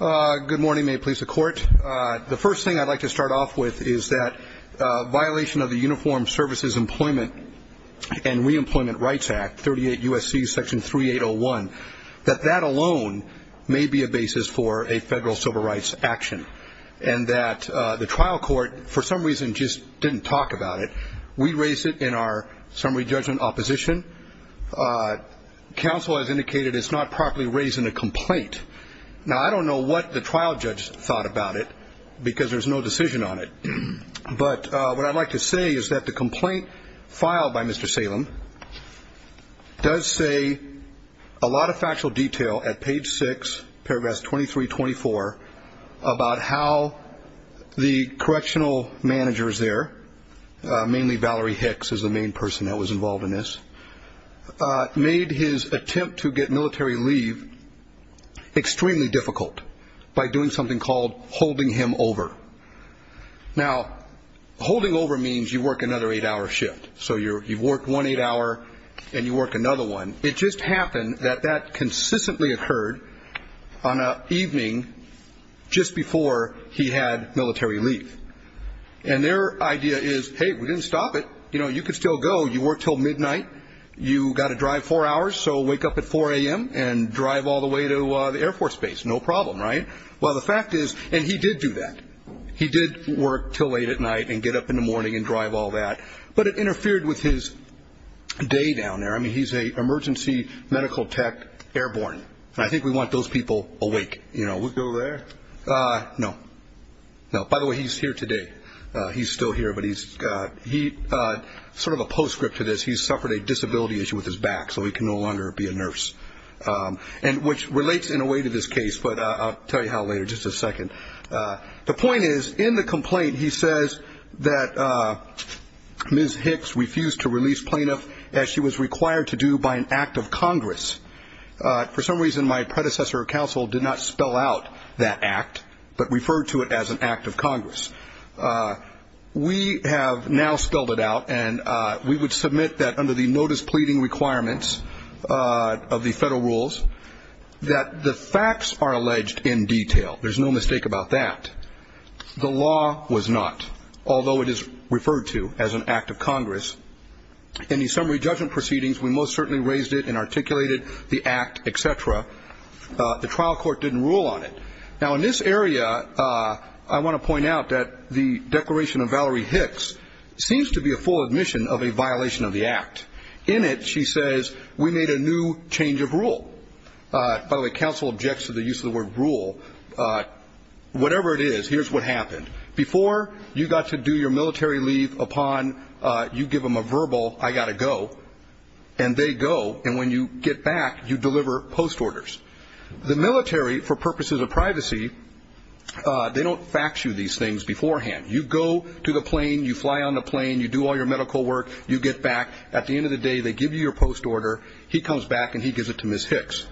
Good morning. May it please the Court. The first thing I'd like to start off with is that violation of the Uniform Services Employment and Reemployment Rights Act, 38 U.S.C. Section 3801, that that alone may be a basis for a federal civil rights action. And that the trial court for some reason just didn't talk about it. We raised it in our summary judgment opposition. Counsel has indicated it's not properly raised in a complaint. Now, I don't know what the trial judge thought about it because there's no decision on it. But what I'd like to say is that the complaint filed by Mr. Salem does say a lot of factual detail at page 6, paragraphs 23-24, about how the correctional manager is there, mainly Valerie Hicks is the main person that was involved in this, made his attempt to get military leave extremely difficult by doing something called holding him over. Now, holding over means you work another eight-hour shift. So you've worked one eight-hour and you work another one. It just happened that that consistently occurred on an evening just before he had to go. But you could still go. You work until midnight. You've got to drive four hours. So wake up at 4 a.m. and drive all the way to the Air Force Base. No problem, right? Well, the fact is, and he did do that. He did work until late at night and get up in the morning and drive all that. But it interfered with his day down there. I mean, he's an emergency medical tech airborne. I think we want those people awake. We'll go there. No. No. By the way, he's here today. He's still here. But he's got he sort of a postscript to this. He's suffered a disability issue with his back so he can no longer be a nurse and which relates in a way to this case. But I'll tell you how later. Just a second. The point is, in the complaint, he says that Ms. Hicks refused to release plaintiff as she was out that act, but referred to it as an act of Congress. We have now spelled it out and we would submit that under the notice pleading requirements of the federal rules that the facts are alleged in detail. There's no mistake about that. The law was not, although it is referred to as an act of Congress. In the summary judgment proceedings, we most certainly raised it and articulated the act, et cetera. The trial court didn't rule on it. Now in this area, I want to point out that the declaration of Valerie Hicks seems to be a full admission of a violation of the act. In it, she says, we made a new change of rule. By the way, counsel objects to the use of the word rule. Whatever it is, here's what happened. Before you got to do your military leave upon you give them verbal, I got to go, and they go, and when you get back, you deliver post orders. The military, for purposes of privacy, they don't fax you these things beforehand. You go to the plane, you fly on the plane, you do all your medical work, you get back. At the end of the day, they give you your post order. He comes back and he gives it to Ms. Hicks.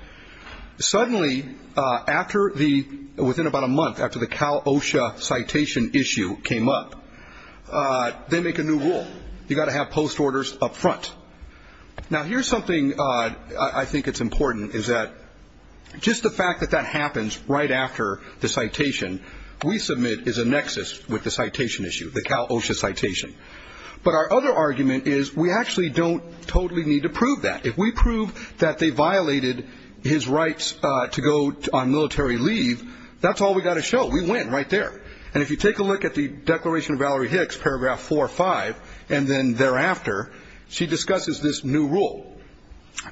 Suddenly, after the, within about a month after the Cal OSHA citation issue came up, they make a new rule. You got to have post orders up front. Now here's something I think it's important is that just the fact that that happens right after the citation we submit is a nexus with the citation issue, the Cal OSHA citation. But our other argument is we actually don't totally need to prove that. If we prove that they violated his rights to go on military leave, that's all we got to show. We went right there. And if you take a look at the declaration of Valerie Hicks, paragraph four or five, and then thereafter, she discusses this new rule.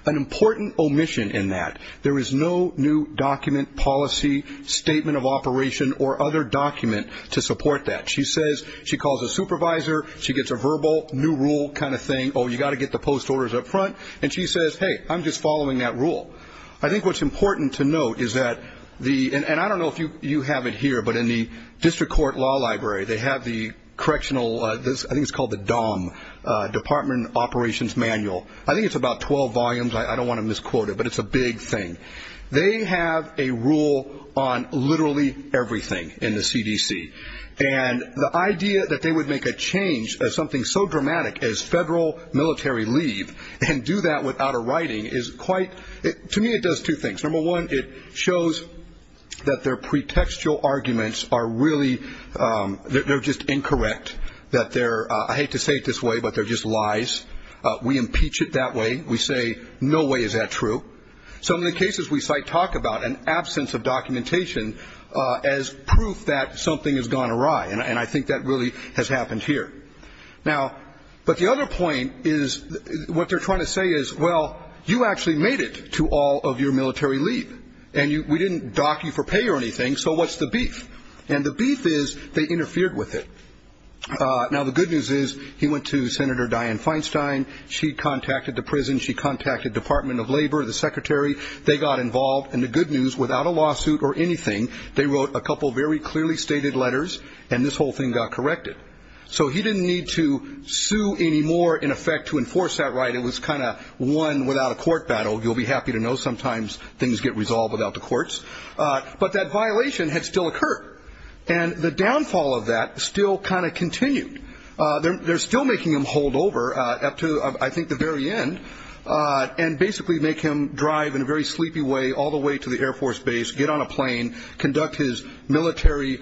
An important omission in that. There is no new document, policy, statement of operation, or other document to support that. She says, she calls a supervisor, she gets a verbal new rule kind of thing. Oh, you got to get the post orders up front. And she says, hey, I'm just following that rule. I think what's important to note is that the, and I don't know if you have it here, but in the district court law library, they have the correctional, I think it's called the DOM, department operations manual. I think it's about 12 volumes. I don't want to misquote it, but it's a big thing. They have a rule on literally everything in the CDC. And the idea that they would make a change as something so dramatic as federal military leave and do that without a writing is quite, to me it does two things. Number one, it shows that their pretextual arguments are really, they're just incorrect. That they're, I hate to say it this way, but they're just lies. We impeach it that way. We say, no way is that true. So in the cases we cite, talk about an absence of documentation as proof that something has gone awry. And I think that really has actually made it to all of your military leave. And we didn't dock you for pay or anything. So what's the beef? And the beef is they interfered with it. Now the good news is he went to Senator Dianne Feinstein. She contacted the prison. She contacted Department of Labor, the secretary. They got involved. And the good news, without a lawsuit or anything, they wrote a couple very clearly stated letters and this whole thing got corrected. So he didn't need to sue anymore in order to enforce that right. It was kind of one without a court battle. You'll be happy to know sometimes things get resolved without the courts. But that violation had still occurred. And the downfall of that still kind of continued. They're still making him hold over up to, I think, the very end. And basically make him drive in a very sleepy way all the way to the Air Force base, get on a plane, conduct his military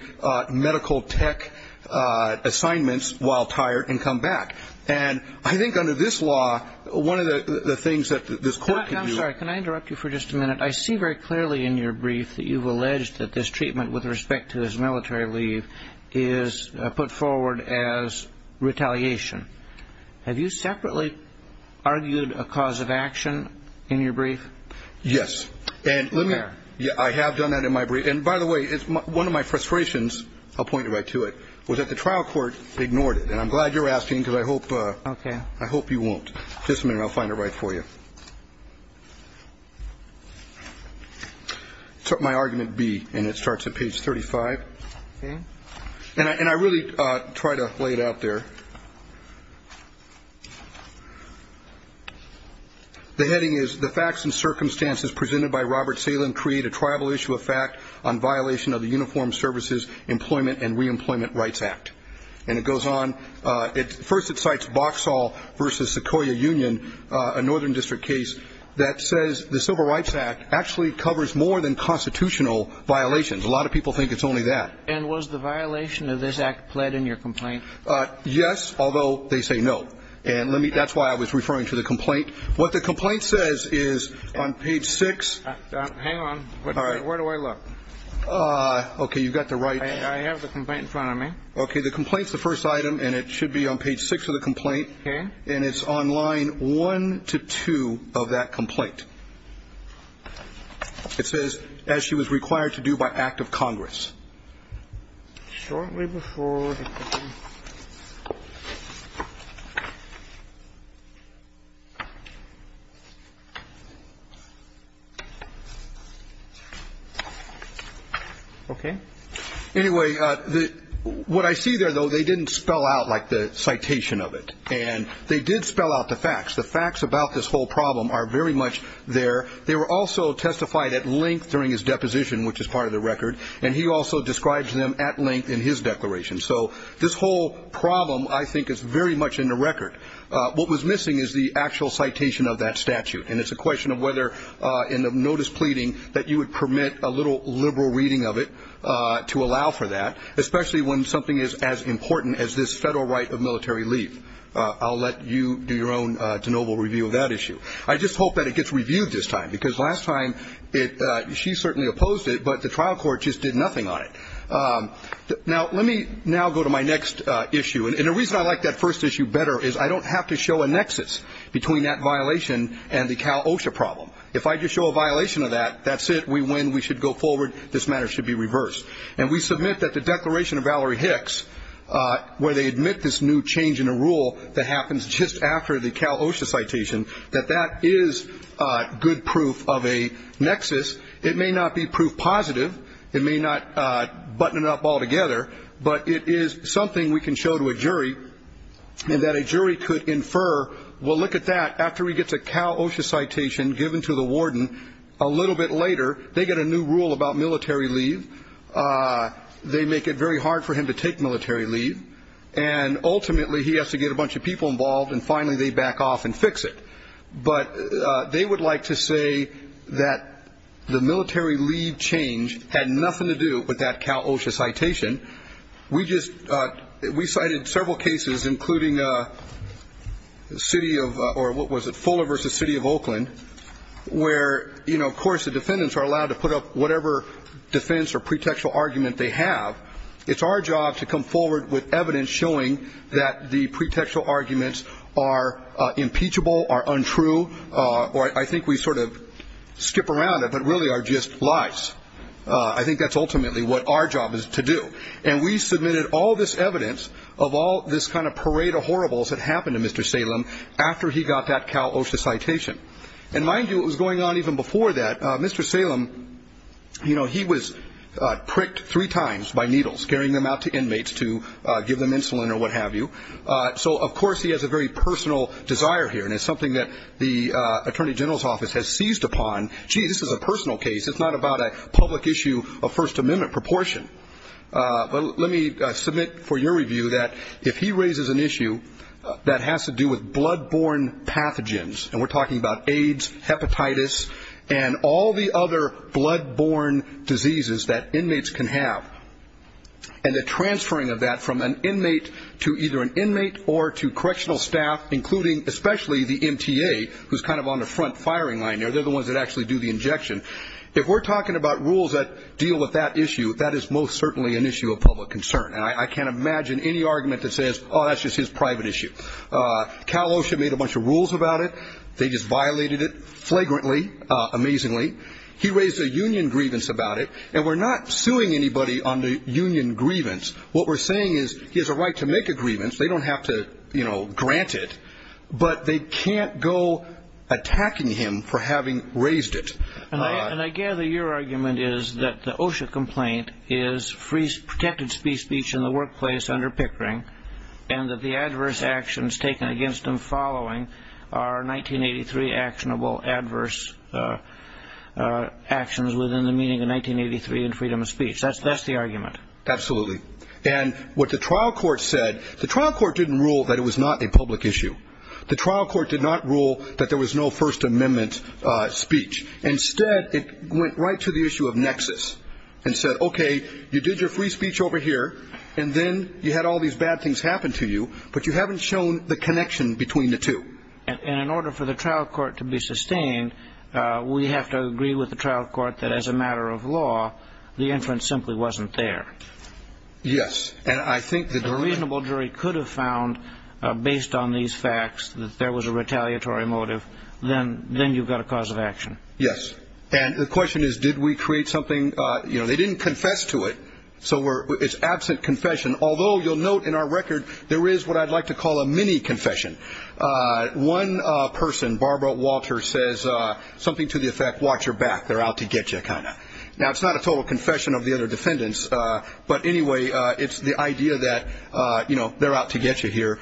medical tech assignments while tired and come back. And I think this law, one of the things that this court can do... I'm sorry. Can I interrupt you for just a minute? I see very clearly in your brief that you've alleged that this treatment with respect to his military leave is put forward as retaliation. Have you separately argued a cause of action in your brief? Yes. And I have done that in my brief. And by the way, it's one of my frustrations, I'll point you right to it, was that the trial court ignored it. And I'm glad you're asking because I hope you won't. Just a minute, I'll find it right for you. It's my argument B, and it starts at page 35. And I really try to lay it out there. The heading is, the facts and circumstances presented by Robert Salem create a tribal issue of fact on violation of the Uniformed Services Employment and Reemployment Rights Act. And it goes on. First, it cites Boxall v. Sequoia Union, a Northern District case that says the Civil Rights Act actually covers more than constitutional violations. A lot of people think it's only that. And was the violation of this act pled in your complaint? Yes, although they say no. And that's why I was referring to the complaint. What the complaint says is on page 6... Hang on. Where do I look? Okay, you've got the right... I have the complaint in front of me. Okay, the complaint's the first item, and it should be on page 6 of the complaint. Okay. And it's on line 1 to 2 of that complaint. It says, as she was required to do by act of Congress. Shortly before... Okay. Anyway, what I see there, though, they didn't spell out like the citation of it. And they did spell out the facts. The facts about this whole problem are very much there. They were also testified at length during his deposition, which is part of the record. And he also describes them at length in his declaration. So this whole problem, I think, is very much in the record. What was missing is the actual citation of that statute. And it's a question of whether in the notice pleading that you would permit a little liberal reading of it to allow for that, especially when something is as important as this federal right of military leave. I'll let you do your own de novo review of that issue. I just hope that it gets reviewed this time, because last time, she certainly opposed it, but the trial court just did nothing on it. Now, let me now go to my next issue. And the reason I like that first issue better is I don't have to show a nexus between that violation and the Cal OSHA problem. If I just show a violation of that, that's it. We win. We should go forward. This matter should be reversed. And we submit that the declaration of Valerie Hicks, where they admit this new change in a rule that happens just after the Cal OSHA citation, that that is good proof of a nexus. It may not be proof positive. It may not button it up altogether. But it is something we can show to a jury, and that a jury could infer, well, look at that. After he gets a Cal OSHA citation given to the warden, a little bit later, they get a new rule about military leave. They make it very hard for him to take military leave. And ultimately, he has to get a bunch of people involved. And finally, they back off and fix it. But they would like to say that the military leave change had nothing to do with that Cal OSHA citation. We just, we cited several cases, including the city of, or was it Fuller v. City of Oakland, where, you know, of course the defendants are allowed to put up whatever defense or pretextual argument they have. It's our job to come forward with evidence showing that the pretextual arguments are impeachable, are untrue, or I think we sort of skip around it, but really are just lies. I think that's ultimately what our job is to do. And we submitted all this evidence of all this kind of parade of horribles that happened to Mr. Salem after he got that Cal OSHA citation. And mind you, it was going on even before that. Mr. Salem, you know, he was pricked three times by needles, carrying them out to inmates to give them insulin or what have you. So, of course, he has a very personal desire here. And it's something that the Attorney General's Office has seized upon. Gee, this is a personal case. It's not about a public issue of First Amendment proportion. But let me submit for your review that if he raises an issue that has to do with blood-borne pathogens, and we're talking about AIDS, hepatitis, and all the other blood-borne diseases that inmates can have, and the transferring of that from an inmate to either an inmate or to do the injection, if we're talking about rules that deal with that issue, that is most certainly an issue of public concern. And I can't imagine any argument that says, oh, that's just his private issue. Cal OSHA made a bunch of rules about it. They just violated it flagrantly, amazingly. He raised a union grievance about it. And we're not suing anybody on the union grievance. What we're saying is he has a right to make a grievance. They don't have to, you know, raise it. And I gather your argument is that the OSHA complaint is free, protected speech in the workplace under Pickering, and that the adverse actions taken against him following are 1983 actionable adverse actions within the meaning of 1983 and freedom of speech. That's the argument. Absolutely. And what the trial court said, the trial court didn't rule that it was not a public issue. The trial court did not rule that there was no First Amendment speech. Instead, it went right to the issue of nexus and said, OK, you did your free speech over here and then you had all these bad things happen to you, but you haven't shown the connection between the two. And in order for the trial court to be sustained, we have to agree with the trial court that as a matter of law, the inference simply wasn't there. Yes. And I think that a reasonable jury could have found based on these facts that there was a retaliatory motive. Then then you've got a cause of action. Yes. And the question is, did we create something? You know, they didn't confess to it. So it's absent confession, although you'll note in our record there is what I'd like to call a mini confession. One person, Barbara Walter, says something to the effect. Watch your back. They're out to get you kind of. Now, it's not a total confession of the other defendants, but anyway, it's the idea that, you know, they're out to get you here.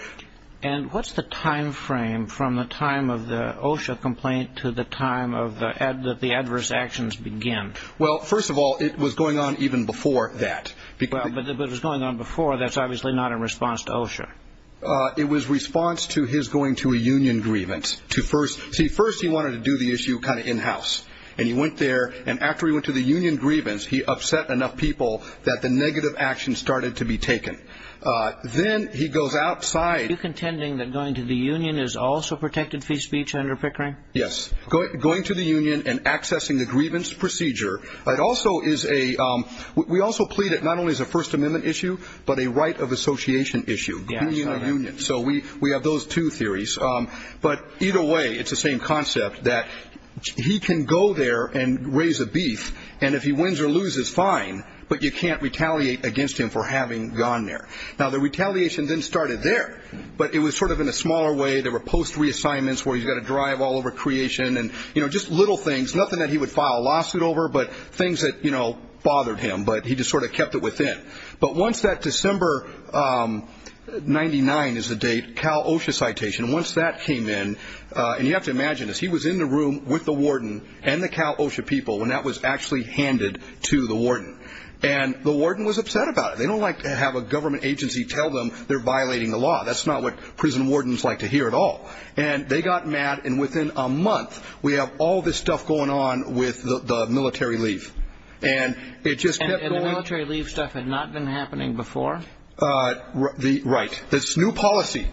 And what's the time frame from the time of the OSHA complaint to the time of the ad that the adverse actions begin? Well, first of all, it was going on even before that, because it was going on before. That's obviously not in response to OSHA. It was response to his going to a union grievance to first see first. He wanted to do the issue kind of in-house. And he went there. And after he went to the union grievance, he upset enough people that the negative action started to be taken. Then he goes outside contending that going to the union is also protected free speech under Pickering. Yes. Going to the union and accessing the grievance procedure. It also is a we also plead it not only as a First Amendment issue, but a right of association issue union. So we we have those two theories. But either way, it's the same concept that he can go there and raise a beef. And if he wins or loses fine, but you can't retaliate against him for having gone there. Now, the retaliation then started there, but it was sort of in a smaller way. There were post reassignments where you got to drive all over creation and, you know, just little things, nothing that he would file a lawsuit over, but things that, you know, bothered him. But he just sort of kept it within. But once that December ninety nine is the date Cal OSHA citation. Once that came in and you have to imagine this, he was in the room with the warden and the Cal OSHA people when that was actually handed to the warden and the warden was upset about it. They don't like to have a government agency tell them they're violating the law. That's not what prison wardens like to hear at all. And they got mad. And within a month, we have all this stuff going on with the military leave and it just military leave stuff had not been happening before the right. This new policy.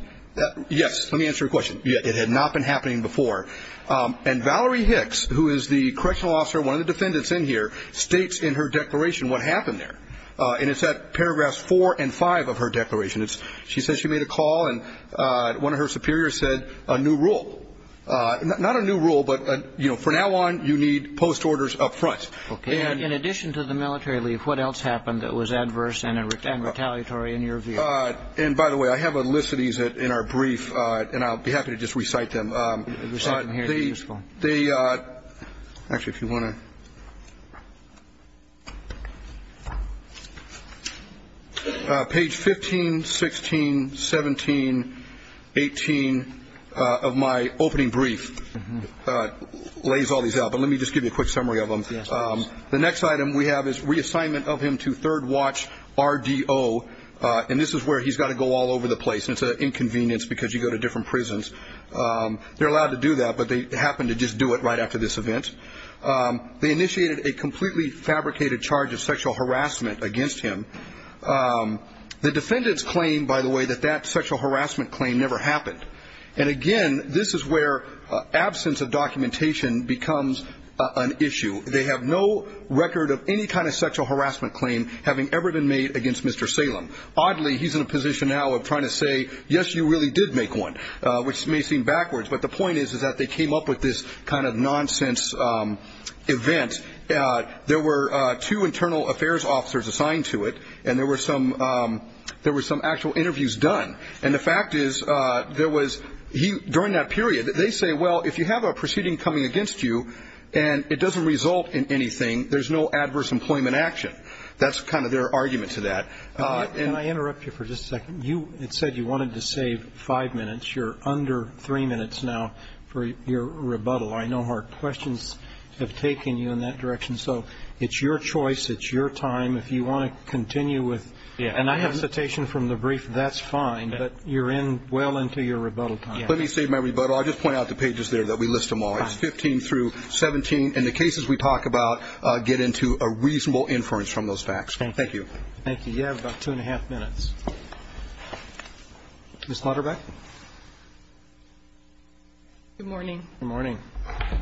Yes. Let me answer your question. It had not been happening before. And Valerie Hicks, who is the correctional officer, one of the defendants in here states in her declaration what happened there. And it's that paragraphs four and five of her declaration. She says she made a call and one of her superiors said a new rule, not a new rule, but, you know, for now on, you need post orders up front. Okay. And in addition to the military leave, what else happened that was adverse and retaliatory in your view? And by the way, I have a list of these that in our brief and I'll be happy to just recite them. They actually, if you want to. Page 15, 16, 17, 18 of my opening brief that lays all these out. But let me just give you a quick summary of them. The next item we have is reassignment of him to third watch RDO. And this is where he's got to go all over the place. It's an inconvenience because you go to different prisons. They're allowed to do that, but they happen to just do it right after this event. They initiated a completely fabricated charge of sexual harassment against him. The defendants claim, by the way, that that harassment claim never happened. And again, this is where absence of documentation becomes an issue. They have no record of any kind of sexual harassment claim having ever been made against Mr. Salem. Oddly, he's in a position now of trying to say, yes, you really did make one, which may seem backwards. But the point is, is that they came up with this kind of nonsense event. There were two internal affairs officers assigned to it and there were some, there were some actual interviews done. And the fact is, there was, during that period, they say, well, if you have a proceeding coming against you and it doesn't result in anything, there's no adverse employment action. That's kind of their argument to that. And I interrupt you for just a second. You said you wanted to save five minutes. You're under three minutes now for your rebuttal. I know hard questions have taken you in that I have a citation from the brief. That's fine. But you're in well into your rebuttal time. Let me save my rebuttal. I just point out the pages there that we list them all. It's 15 through 17. And the cases we talk about get into a reasonable inference from those facts. Thank you. Thank you. You have about two and a half minutes. Ms. Lutterbeck. Good morning. Good morning.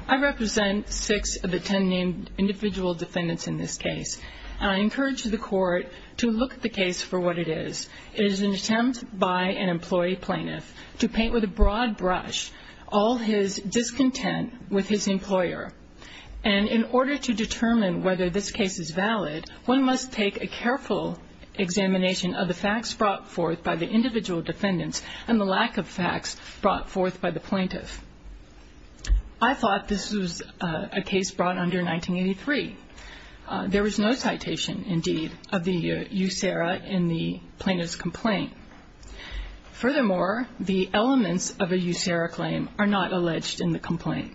I represent six of the 10 named individual defendants in this case. I encourage the court to look at the case for what it is. It is an attempt by an employee plaintiff to paint with a broad brush all his discontent with his employer. And in order to determine whether this case is valid, one must take a careful examination of the facts brought forth by the individual defendants and the lack of facts brought forth by the plaintiff. I thought this was a case brought under 1983. There was no citation, indeed, of the USERRA in the plaintiff's complaint. Furthermore, the elements of a USERRA claim are not alleged in the complaint.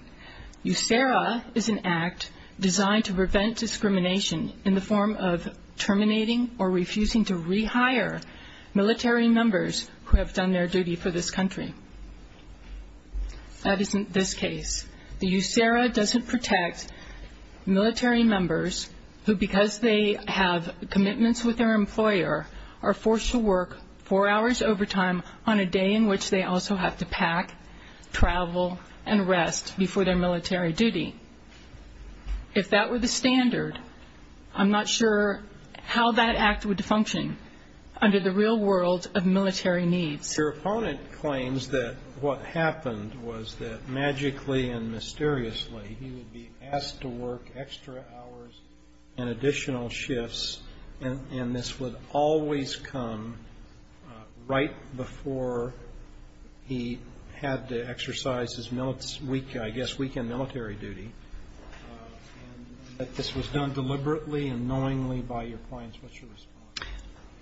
USERRA is an act designed to prevent discrimination in the form of terminating or refusing to rehire military members who have done their duty for this country. That isn't this case. The USERRA doesn't protect military members who, because they have commitments with their employer, are forced to work four hours overtime on a day in which they also have to pack, travel, and rest before their military duty. If that were the standard, I'm not sure how that act would function under the real world of military needs. Your opponent claims that what happened was that magically and mysteriously he would be asked to work extra hours and additional shifts, and this would always come right before he had to exercise his military duty, I guess weekend military duty, that this was done deliberately and knowingly by your clients. What's your response?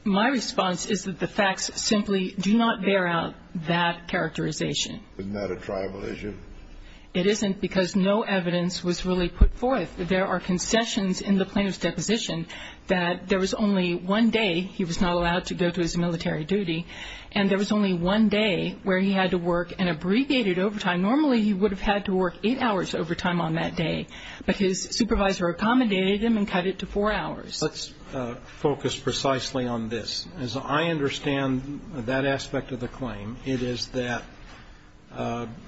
My response is that the facts simply do not bear out that characterization. Isn't that a tribal issue? It isn't because no evidence was really put forth. There are concessions in the plaintiff's deposition that there was only one day he was not allowed to go to his military duty, and there was only one day where he had to work an abbreviated overtime. Normally, he would have had to work eight hours overtime on that day, but his supervisor accommodated him and cut it to four on this. As I understand that aspect of the claim, it is that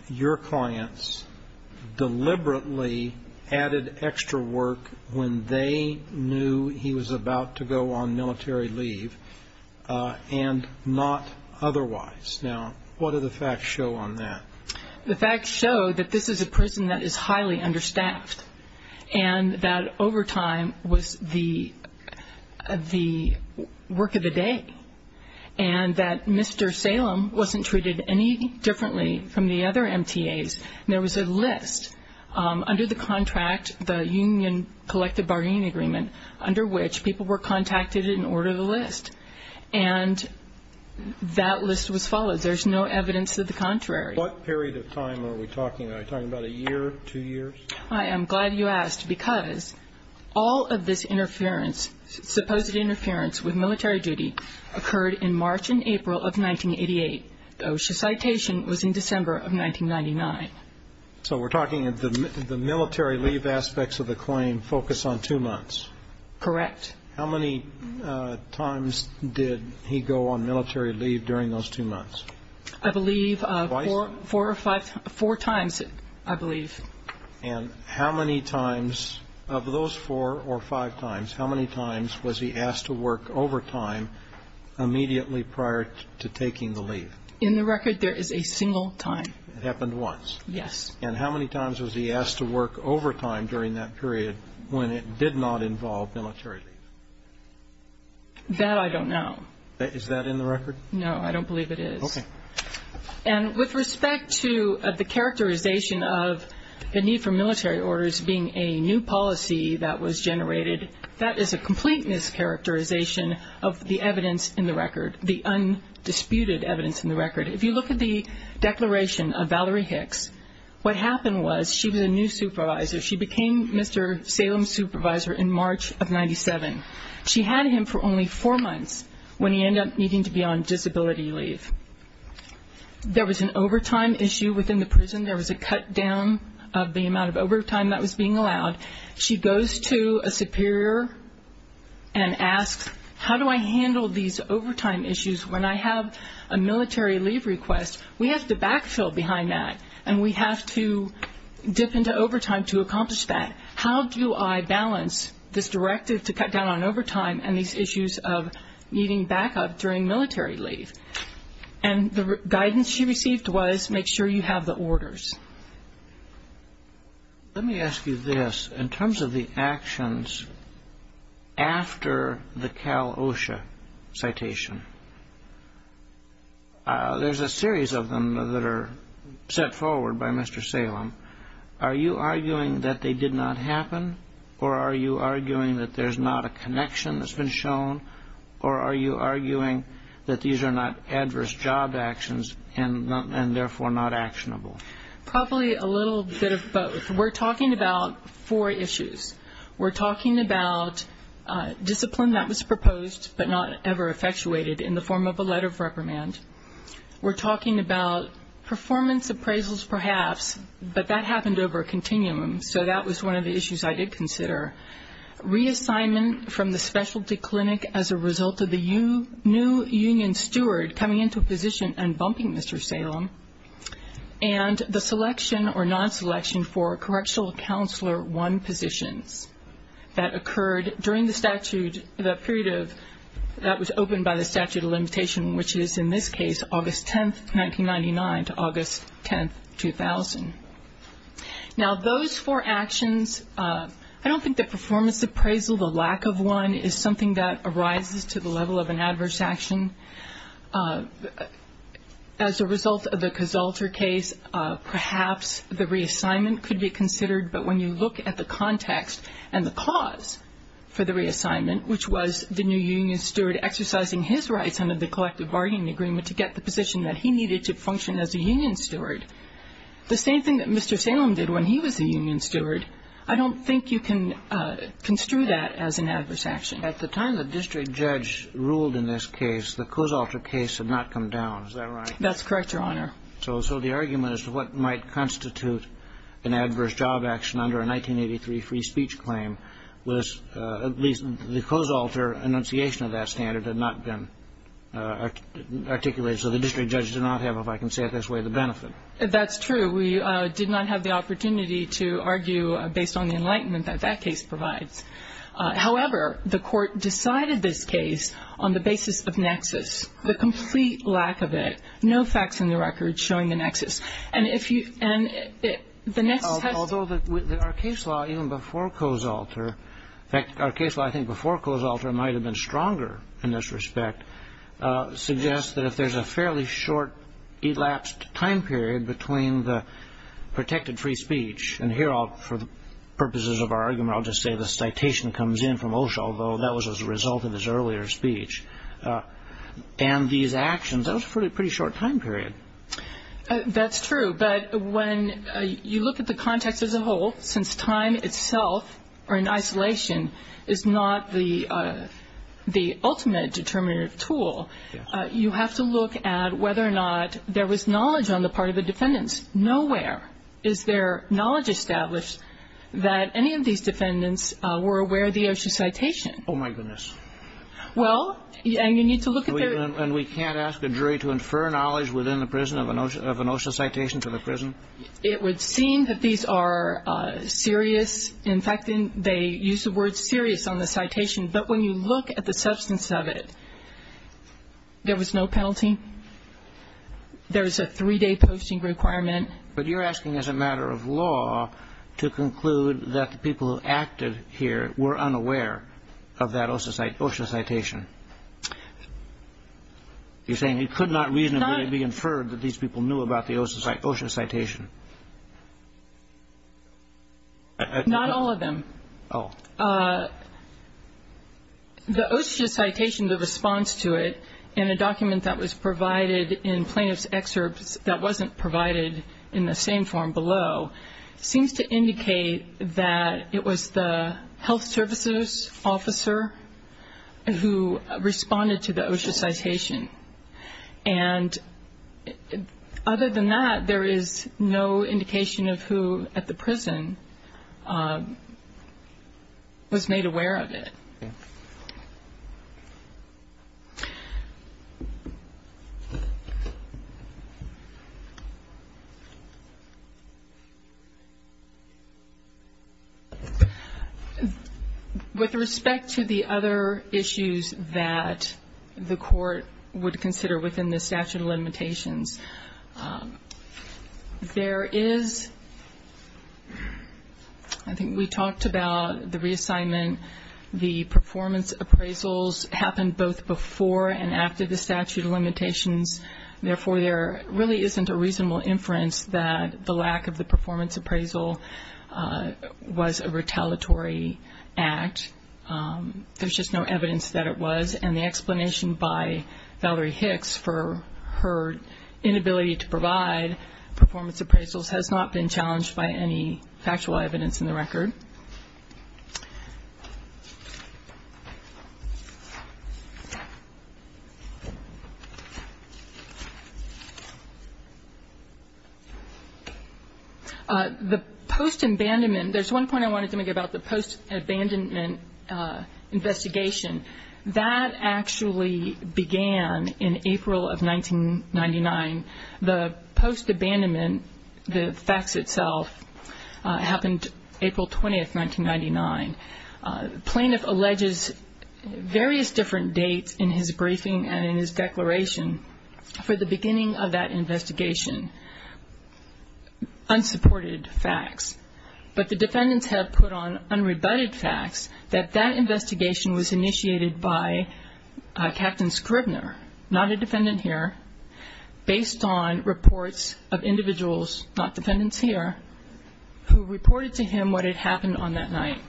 your clients deliberately added extra work when they knew he was about to go on military leave and not otherwise. Now, what do the facts show on that? The facts show that this is a prison that is highly understaffed and that overtime was the work of the day, and that Mr. Salem wasn't treated any differently from the other MTAs. There was a list under the contract, the union collective bargaining agreement, under which people were contacted and ordered a list, and that list was followed. There's no evidence of the contrary. What period of time are we talking? Are we talking about a year, two years? I am glad you asked, because all of this supposed interference with military duty occurred in March and April of 1988. The OSHA citation was in December of 1999. So we're talking the military leave aspects of the claim focus on two months? Correct. How many times did he go on military leave during those two months? I believe four or five, four times, I believe. And how many times of those four or five times, how many times was he asked to work overtime immediately prior to taking the leave? In the record, there is a single time. It happened once? Yes. And how many times was he asked to work overtime during that period when it did not involve military leave? That I don't know. Is that in the record? No, I don't believe it is. Okay. And with respect to the characterization of the need for military orders being a new policy that was generated, that is a complete mischaracterization of the evidence in the record, the undisputed evidence in the record. If you look at the declaration of Valerie Hicks, what happened was she was a supervisor. She became Mr. Salem's supervisor in March of 97. She had him for only four months when he ended up needing to be on disability leave. There was an overtime issue within the prison. There was a cut down of the amount of overtime that was being allowed. She goes to a superior and asks, how do I handle these overtime issues when I have a military leave request? We have to backfill behind that, and we have to dip into overtime to accomplish that. How do I balance this directive to cut down on overtime and these issues of needing backup during military leave? And the guidance she received was, make sure you have the orders. Let me ask you this. In terms of the actions after the Cal OSHA citation, there's a series of them that are set forward by Mr. Salem. Are you arguing that they did not happen, or are you arguing that there's not a connection that's been shown, or are you arguing that these are not adverse job actions and therefore not actionable? Probably a little bit of both. We're talking about four issues. We're talking about discipline that was proposed but not ever effectuated in the form of a letter of reprimand. We're talking about performance appraisals perhaps, but that happened over a continuum, so that was one of the issues I did consider. Reassignment from the specialty clinic as a result of the new union steward coming into position and bumping Mr. Salem. And the selection or non-selection for correctional counselor one positions that occurred during the statute, the period that was opened by the statute of limitation, which is in this case, August 10, 1999 to August 10, 2000. Now those four actions, I don't think the performance appraisal, the lack of one, is something that arises to the level of an adverse action as a result of the Casalter case. Perhaps the reassignment could be considered, but when you look at the context and the cause for the reassignment, which was the new union steward exercising his rights under the collective bargaining agreement to get the position that he needed to function as a union steward, the same thing that Mr. Salem did when he was a union steward, I don't think you can construe that as an adverse action. At the time the district judge ruled in this case, the Casalter case had not come down. Is that right? That's correct, Your Honor. So the argument as to what might constitute an adverse job action under a 1983 free speech claim was at least the Casalter enunciation of that standard had not been articulated. So the district judge did not have, if I can say it this way, the benefit. That's true. We did not have the opportunity to argue based on the enlightenment that that case provides. However, the court decided this case on the basis of nexus, the complete lack of it, no facts in the record showing the nexus. Although our case law, even before Casalter, in fact, our case law I think before Casalter might have been stronger in this respect, suggests that if there's a fairly short elapsed time period between the protected free speech, and here for the purposes of our argument, I'll just say the citation comes in from Osho, although that was as a result of his earlier speech, and these actions, that was a pretty short time period. That's true. But when you look at the context as a whole, since time itself or in isolation is not the ultimate determinative tool, you have to look at whether or not there was knowledge on the part of the defendants. Nowhere is there knowledge established that any of these defendants were aware of the Osho citation. Oh, my goodness. Well, and you need to look at their... And we can't ask a jury to infer knowledge within the prison of an Osho citation to the prison? It would seem that these are serious. In fact, they use the word serious on the citation. But when you look at the substance of it, there was no penalty. There was a three-day posting requirement. But you're asking as a matter of law to conclude that the people who acted here were unaware of that Osho citation. You're saying it could not reasonably be inferred that these people knew about the Osho citation? Not all of them. The Osho citation, the response to it in a document that was provided in plaintiff's excerpts that wasn't provided in the same form below, seems to indicate that it was the health services officer who responded to the Osho citation. And other than that, there is no indication of who at the prison was made aware of it. Okay. With respect to the other issues that the court would consider within the statute of limitations, there is, I think we talked about the reassignment, the performance appraisals happened both before and after the statute of limitations. Therefore, there really isn't a reasonable inference that the lack of the performance appraisal was a retaliatory act. There's just no evidence that it was. And the explanation by Valerie Hicks for her inability to provide performance appraisals has not been challenged by any factual evidence in the record. The post-abandonment, there's one point I wanted to make about the post-abandonment investigation. That actually began in April of 1999. The post-abandonment, the facts itself, happened April 20th, 1999. Plaintiff alleges various different dates in his briefing and in his declaration for the beginning of that investigation, unsupported facts. But the that investigation was initiated by Captain Scribner, not a defendant here, based on reports of individuals, not defendants here, who reported to him what had happened on that night.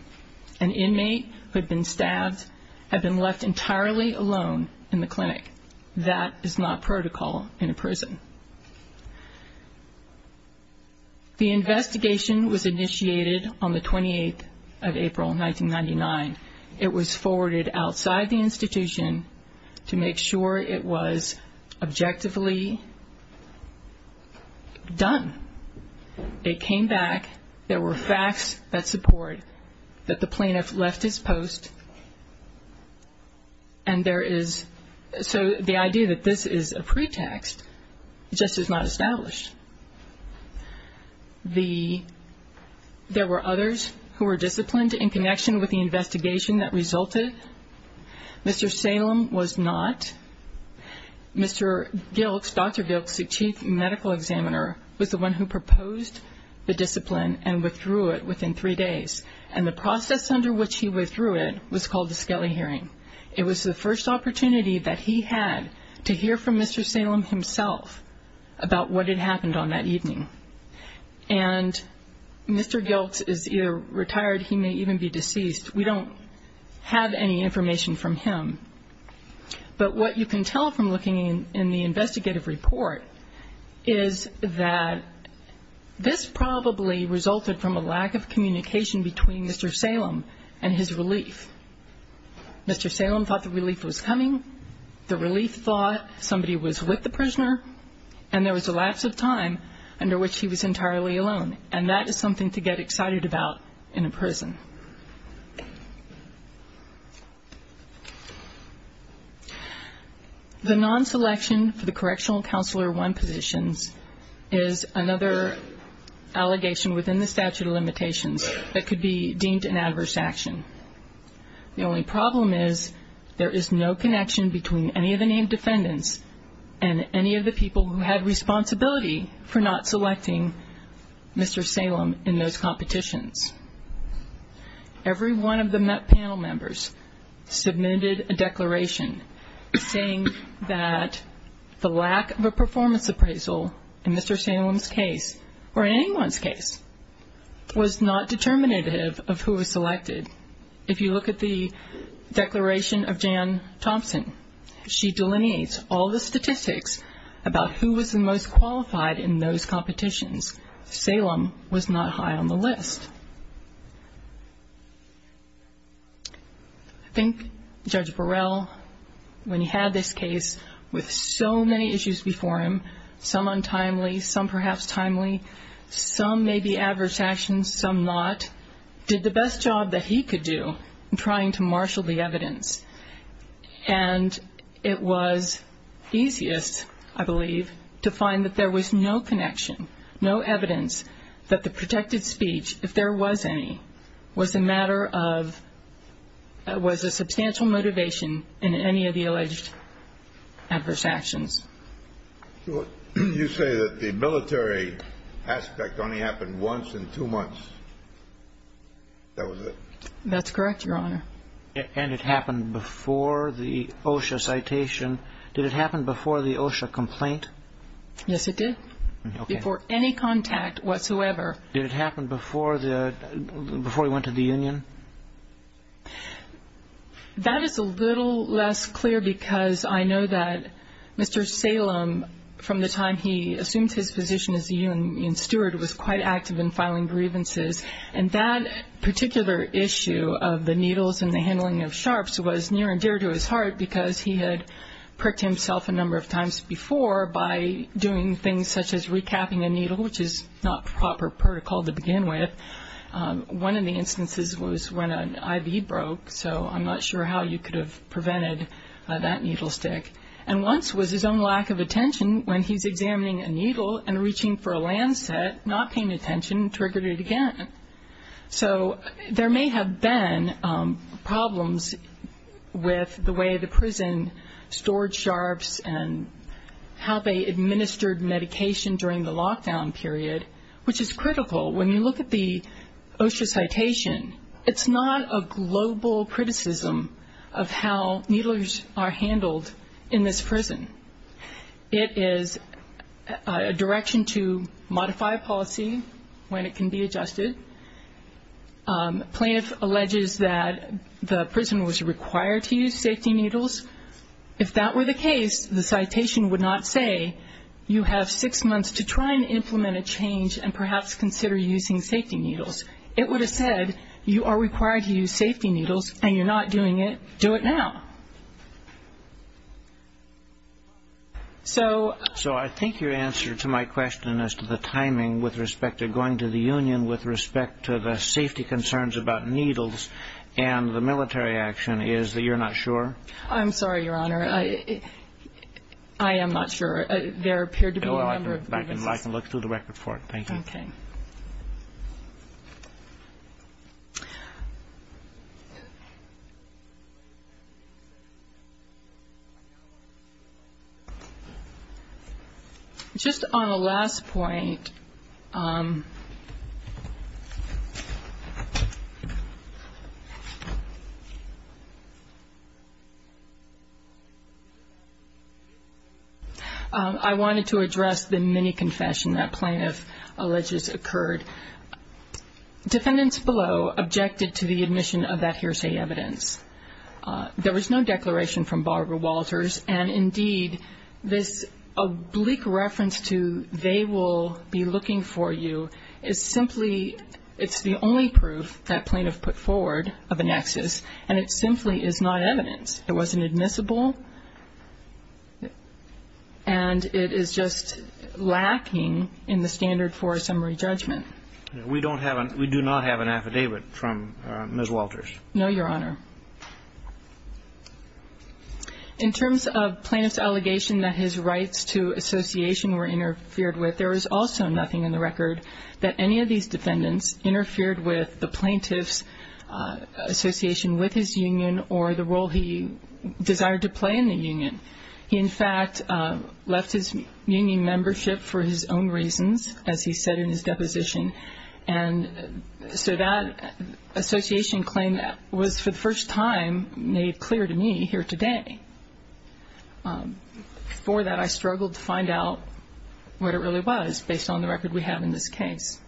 An inmate who had been stabbed had been left entirely alone in the clinic. That is not protocol in a prison. The investigation was initiated on the 28th of April, 1999. It was forwarded outside the institution to make sure it was objectively done. It came back, there were facts that support that plaintiff left his post and there is, so the idea that this is a pretext just is not established. The, there were others who were disciplined in connection with the investigation that resulted. Mr. Salem was not. Mr. Gilks, Dr. Gilks, the chief medical examiner, was the one who proposed the discipline and withdrew it within three days. And the process under which he withdrew it was called the Skelly hearing. It was the first opportunity that he had to hear from Mr. Salem himself about what had happened on that evening. And Mr. Gilks is either retired, he may even be deceased. We don't have any information from him. But what you can tell from looking in the This probably resulted from a lack of communication between Mr. Salem and his relief. Mr. Salem thought the relief was coming, the relief thought somebody was with the prisoner, and there was a lapse of time under which he was entirely alone. And that is something to get excited about in a prison. The non-selection for the correctional counselor one positions is another allegation within the statute of limitations that could be deemed an adverse action. The only problem is there is no connection between any of the named defendants and any of the people who had responsibility for not selecting Mr. Salem in those competitions. Every one of the panel members submitted a declaration saying that the lack of a performance appraisal in Mr. Salem's case or anyone's case was not determinative of who was selected. If you look at the declaration of Jan Thompson, she delineates all the statistics about who was the most qualified in those competitions. Salem was not high on the list. I think Judge Burrell, when he had this case with so many issues before him, some untimely, some perhaps timely, some maybe adverse actions, some not, did the best job that he could do in trying to marshal the evidence. And it was easiest, I believe, to find that there was no connection, no evidence that the protected speech, if there was any, was that he was not qualified. It was a matter of, it was a substantial motivation in any of the alleged adverse actions. You say that the military aspect only happened once in two months. That was it. That's correct, Your Honor. And it happened before the OSHA citation. Did it happen before the OSHA complaint? Yes, it did. Okay. Before any contact whatsoever. Did it happen before the, before he went to the Union? That is a little less clear because I know that Mr. Salem, from the time he assumed his position as the Union steward, was quite active in filing grievances. And that particular issue of the needles and the handling of sharps was near and dear to his heart because he had pricked himself a number of times before by doing things such as recapping a needle, which is not proper protocol to begin with. One of the instances was when an IV broke. So I'm not sure how you could have prevented that needle stick. And once was his own lack of attention when he's examining a needle and reaching for a lancet, not paying attention, triggered it again. So there may have been problems with the way the prison stored sharps and how they administered medication during the lockdown period, which is critical. When you look at the OSHA citation, it's not a global criticism of how needles are handled in this prison. It is a direction to modify policy when it can be adjusted. Plaintiff alleges that the prison was required to use safety needles. If that were the case, the citation would not say you have six months to try and implement a change and perhaps consider using safety needles. It would have said you are required to use safety needles and you're not doing it. Do it now. So I think your answer to my question as to the timing with respect to going to the Union with respect to the safety concerns about needles and the military action is that you're not sure? I'm sorry, Your Honor. I am not sure. There appeared to be a number of reasons. I can look through the record for it. Thank you. Okay. Just on a last point, I wanted to address the mini-confession that Plaintiff alleges occurred. Defendants below objected to the admission of that hearsay evidence. There was no declaration from Barbara Walters, and indeed, this oblique reference to they will be looking for you is simply, it's the only proof that Plaintiff put forward of a nexus, and it simply is not evidence. It wasn't admissible, and it is just lacking in the standard for a summary judgment. We do not have an affidavit from Ms. Walters. No, Your Honor. In terms of Plaintiff's allegation that his rights to association were interfered with, there is also nothing in the record that any of these defendants interfered with the Plaintiff's association with his union or the role he desired to play in the union. He, in fact, left his union membership for his own reasons, as he said in his deposition, and so that association claim was, for the first time, made clear to me here today. Before that, I struggled to find out what it really was based on the record we have in this case.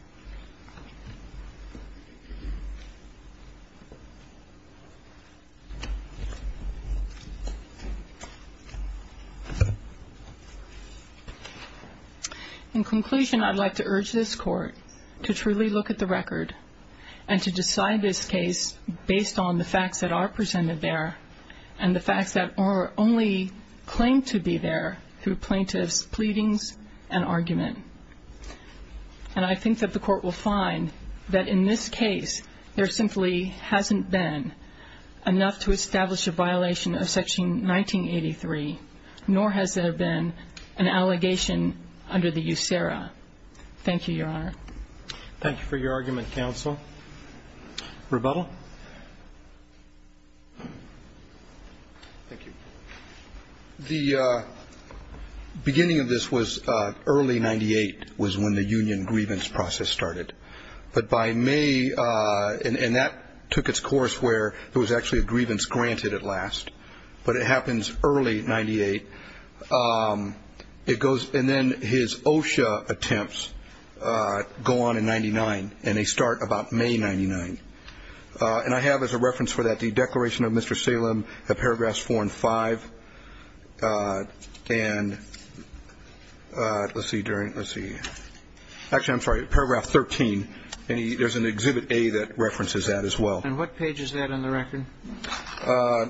In conclusion, I'd like to urge this Court to truly look at the record and to decide this case based on the facts that are presented there and the facts that only claim to be there through Plaintiff's pleadings and argument. And I think that the Court will find that in this case, there simply hasn't been enough to establish a violation of Section 1983, nor has there been an allegation under the USERRA. Thank you, Your Honor. Thank you for your argument, counsel. Rebuttal. Thank you. The beginning of this was early 1998 was when the union grievance process started. But by May, and that took its course where there was actually a grievance granted at last, but it happens early 1998. And then his OSHA attempts go on in 1999, and they start about May 1999. And I have as a reference for that the Declaration of Mr. Salem at paragraphs 4 and 5. And let's see. Actually, I'm sorry, paragraph 13. There's an Exhibit A that references that as well. And what page is that on the record?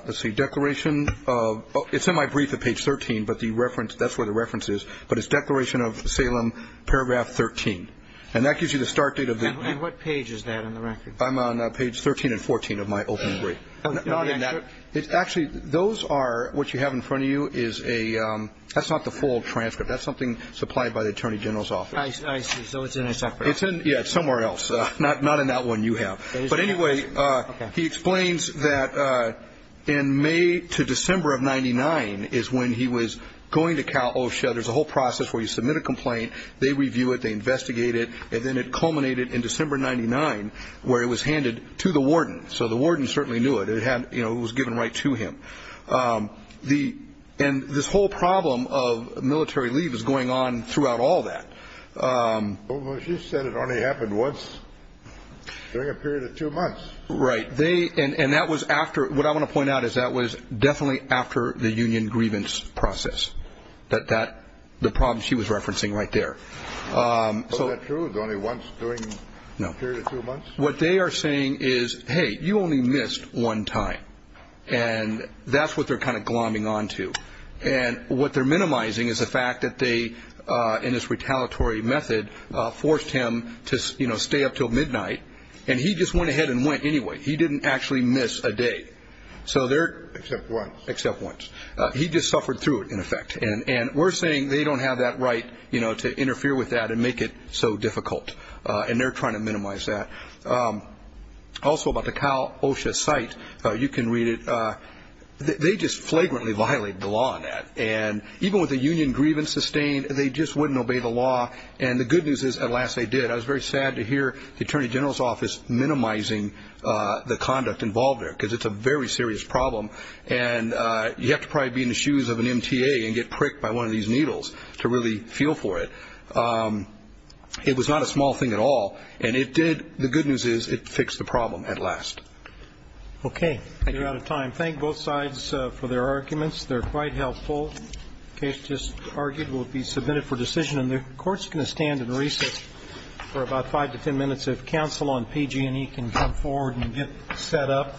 Let's see. Declaration of – it's in my brief at page 13, but the reference – that's where the reference is. But it's Declaration of Salem, paragraph 13. And that gives you the start date of the – And what page is that on the record? I'm on page 13 and 14 of my opening brief. Not in that – actually, those are – what you have in front of you is a – that's not the full transcript. That's something supplied by the Attorney General's office. I see. So it's in a separate – Not in that one you have. But anyway, he explains that – in May to December of 99 is when he was going to Cal OSHA. There's a whole process where you submit a complaint. They review it. They investigate it. And then it culminated in December 99 where it was handed to the warden. So the warden certainly knew it. It was given right to him. And this whole problem of military leave is going on throughout all that. Well, you said it only happened once during a period of two months. Right. And that was after – what I want to point out is that was definitely after the union grievance process, the problem she was referencing right there. Is that true? The only once during a period of two months? No. What they are saying is, hey, you only missed one time. And that's what they're kind of glomming on to. And what they're minimizing is the fact that they, in this retaliatory method, forced him to stay up until midnight. And he just went ahead and went anyway. He didn't actually miss a day. Except once. Except once. He just suffered through it, in effect. And we're saying they don't have that right to interfere with that and make it so difficult. And they're trying to minimize that. Also about the Kyle Osha site, you can read it. They just flagrantly violated the law on that. And even with the union grievance sustained, they just wouldn't obey the law. And the good news is, alas, they did. I was very sad to hear the Attorney General's Office minimizing the conduct involved there, because it's a very serious problem. And you have to probably be in the shoes of an MTA and get pricked by one of these needles to really feel for it. It was not a small thing at all. And it did. The good news is it fixed the problem at last. Okay. We're out of time. Thank both sides for their arguments. They're quite helpful. The case just argued will be submitted for decision. And the Court's going to stand and recess for about five to ten minutes if counsel on PG&E can come forward and get set up.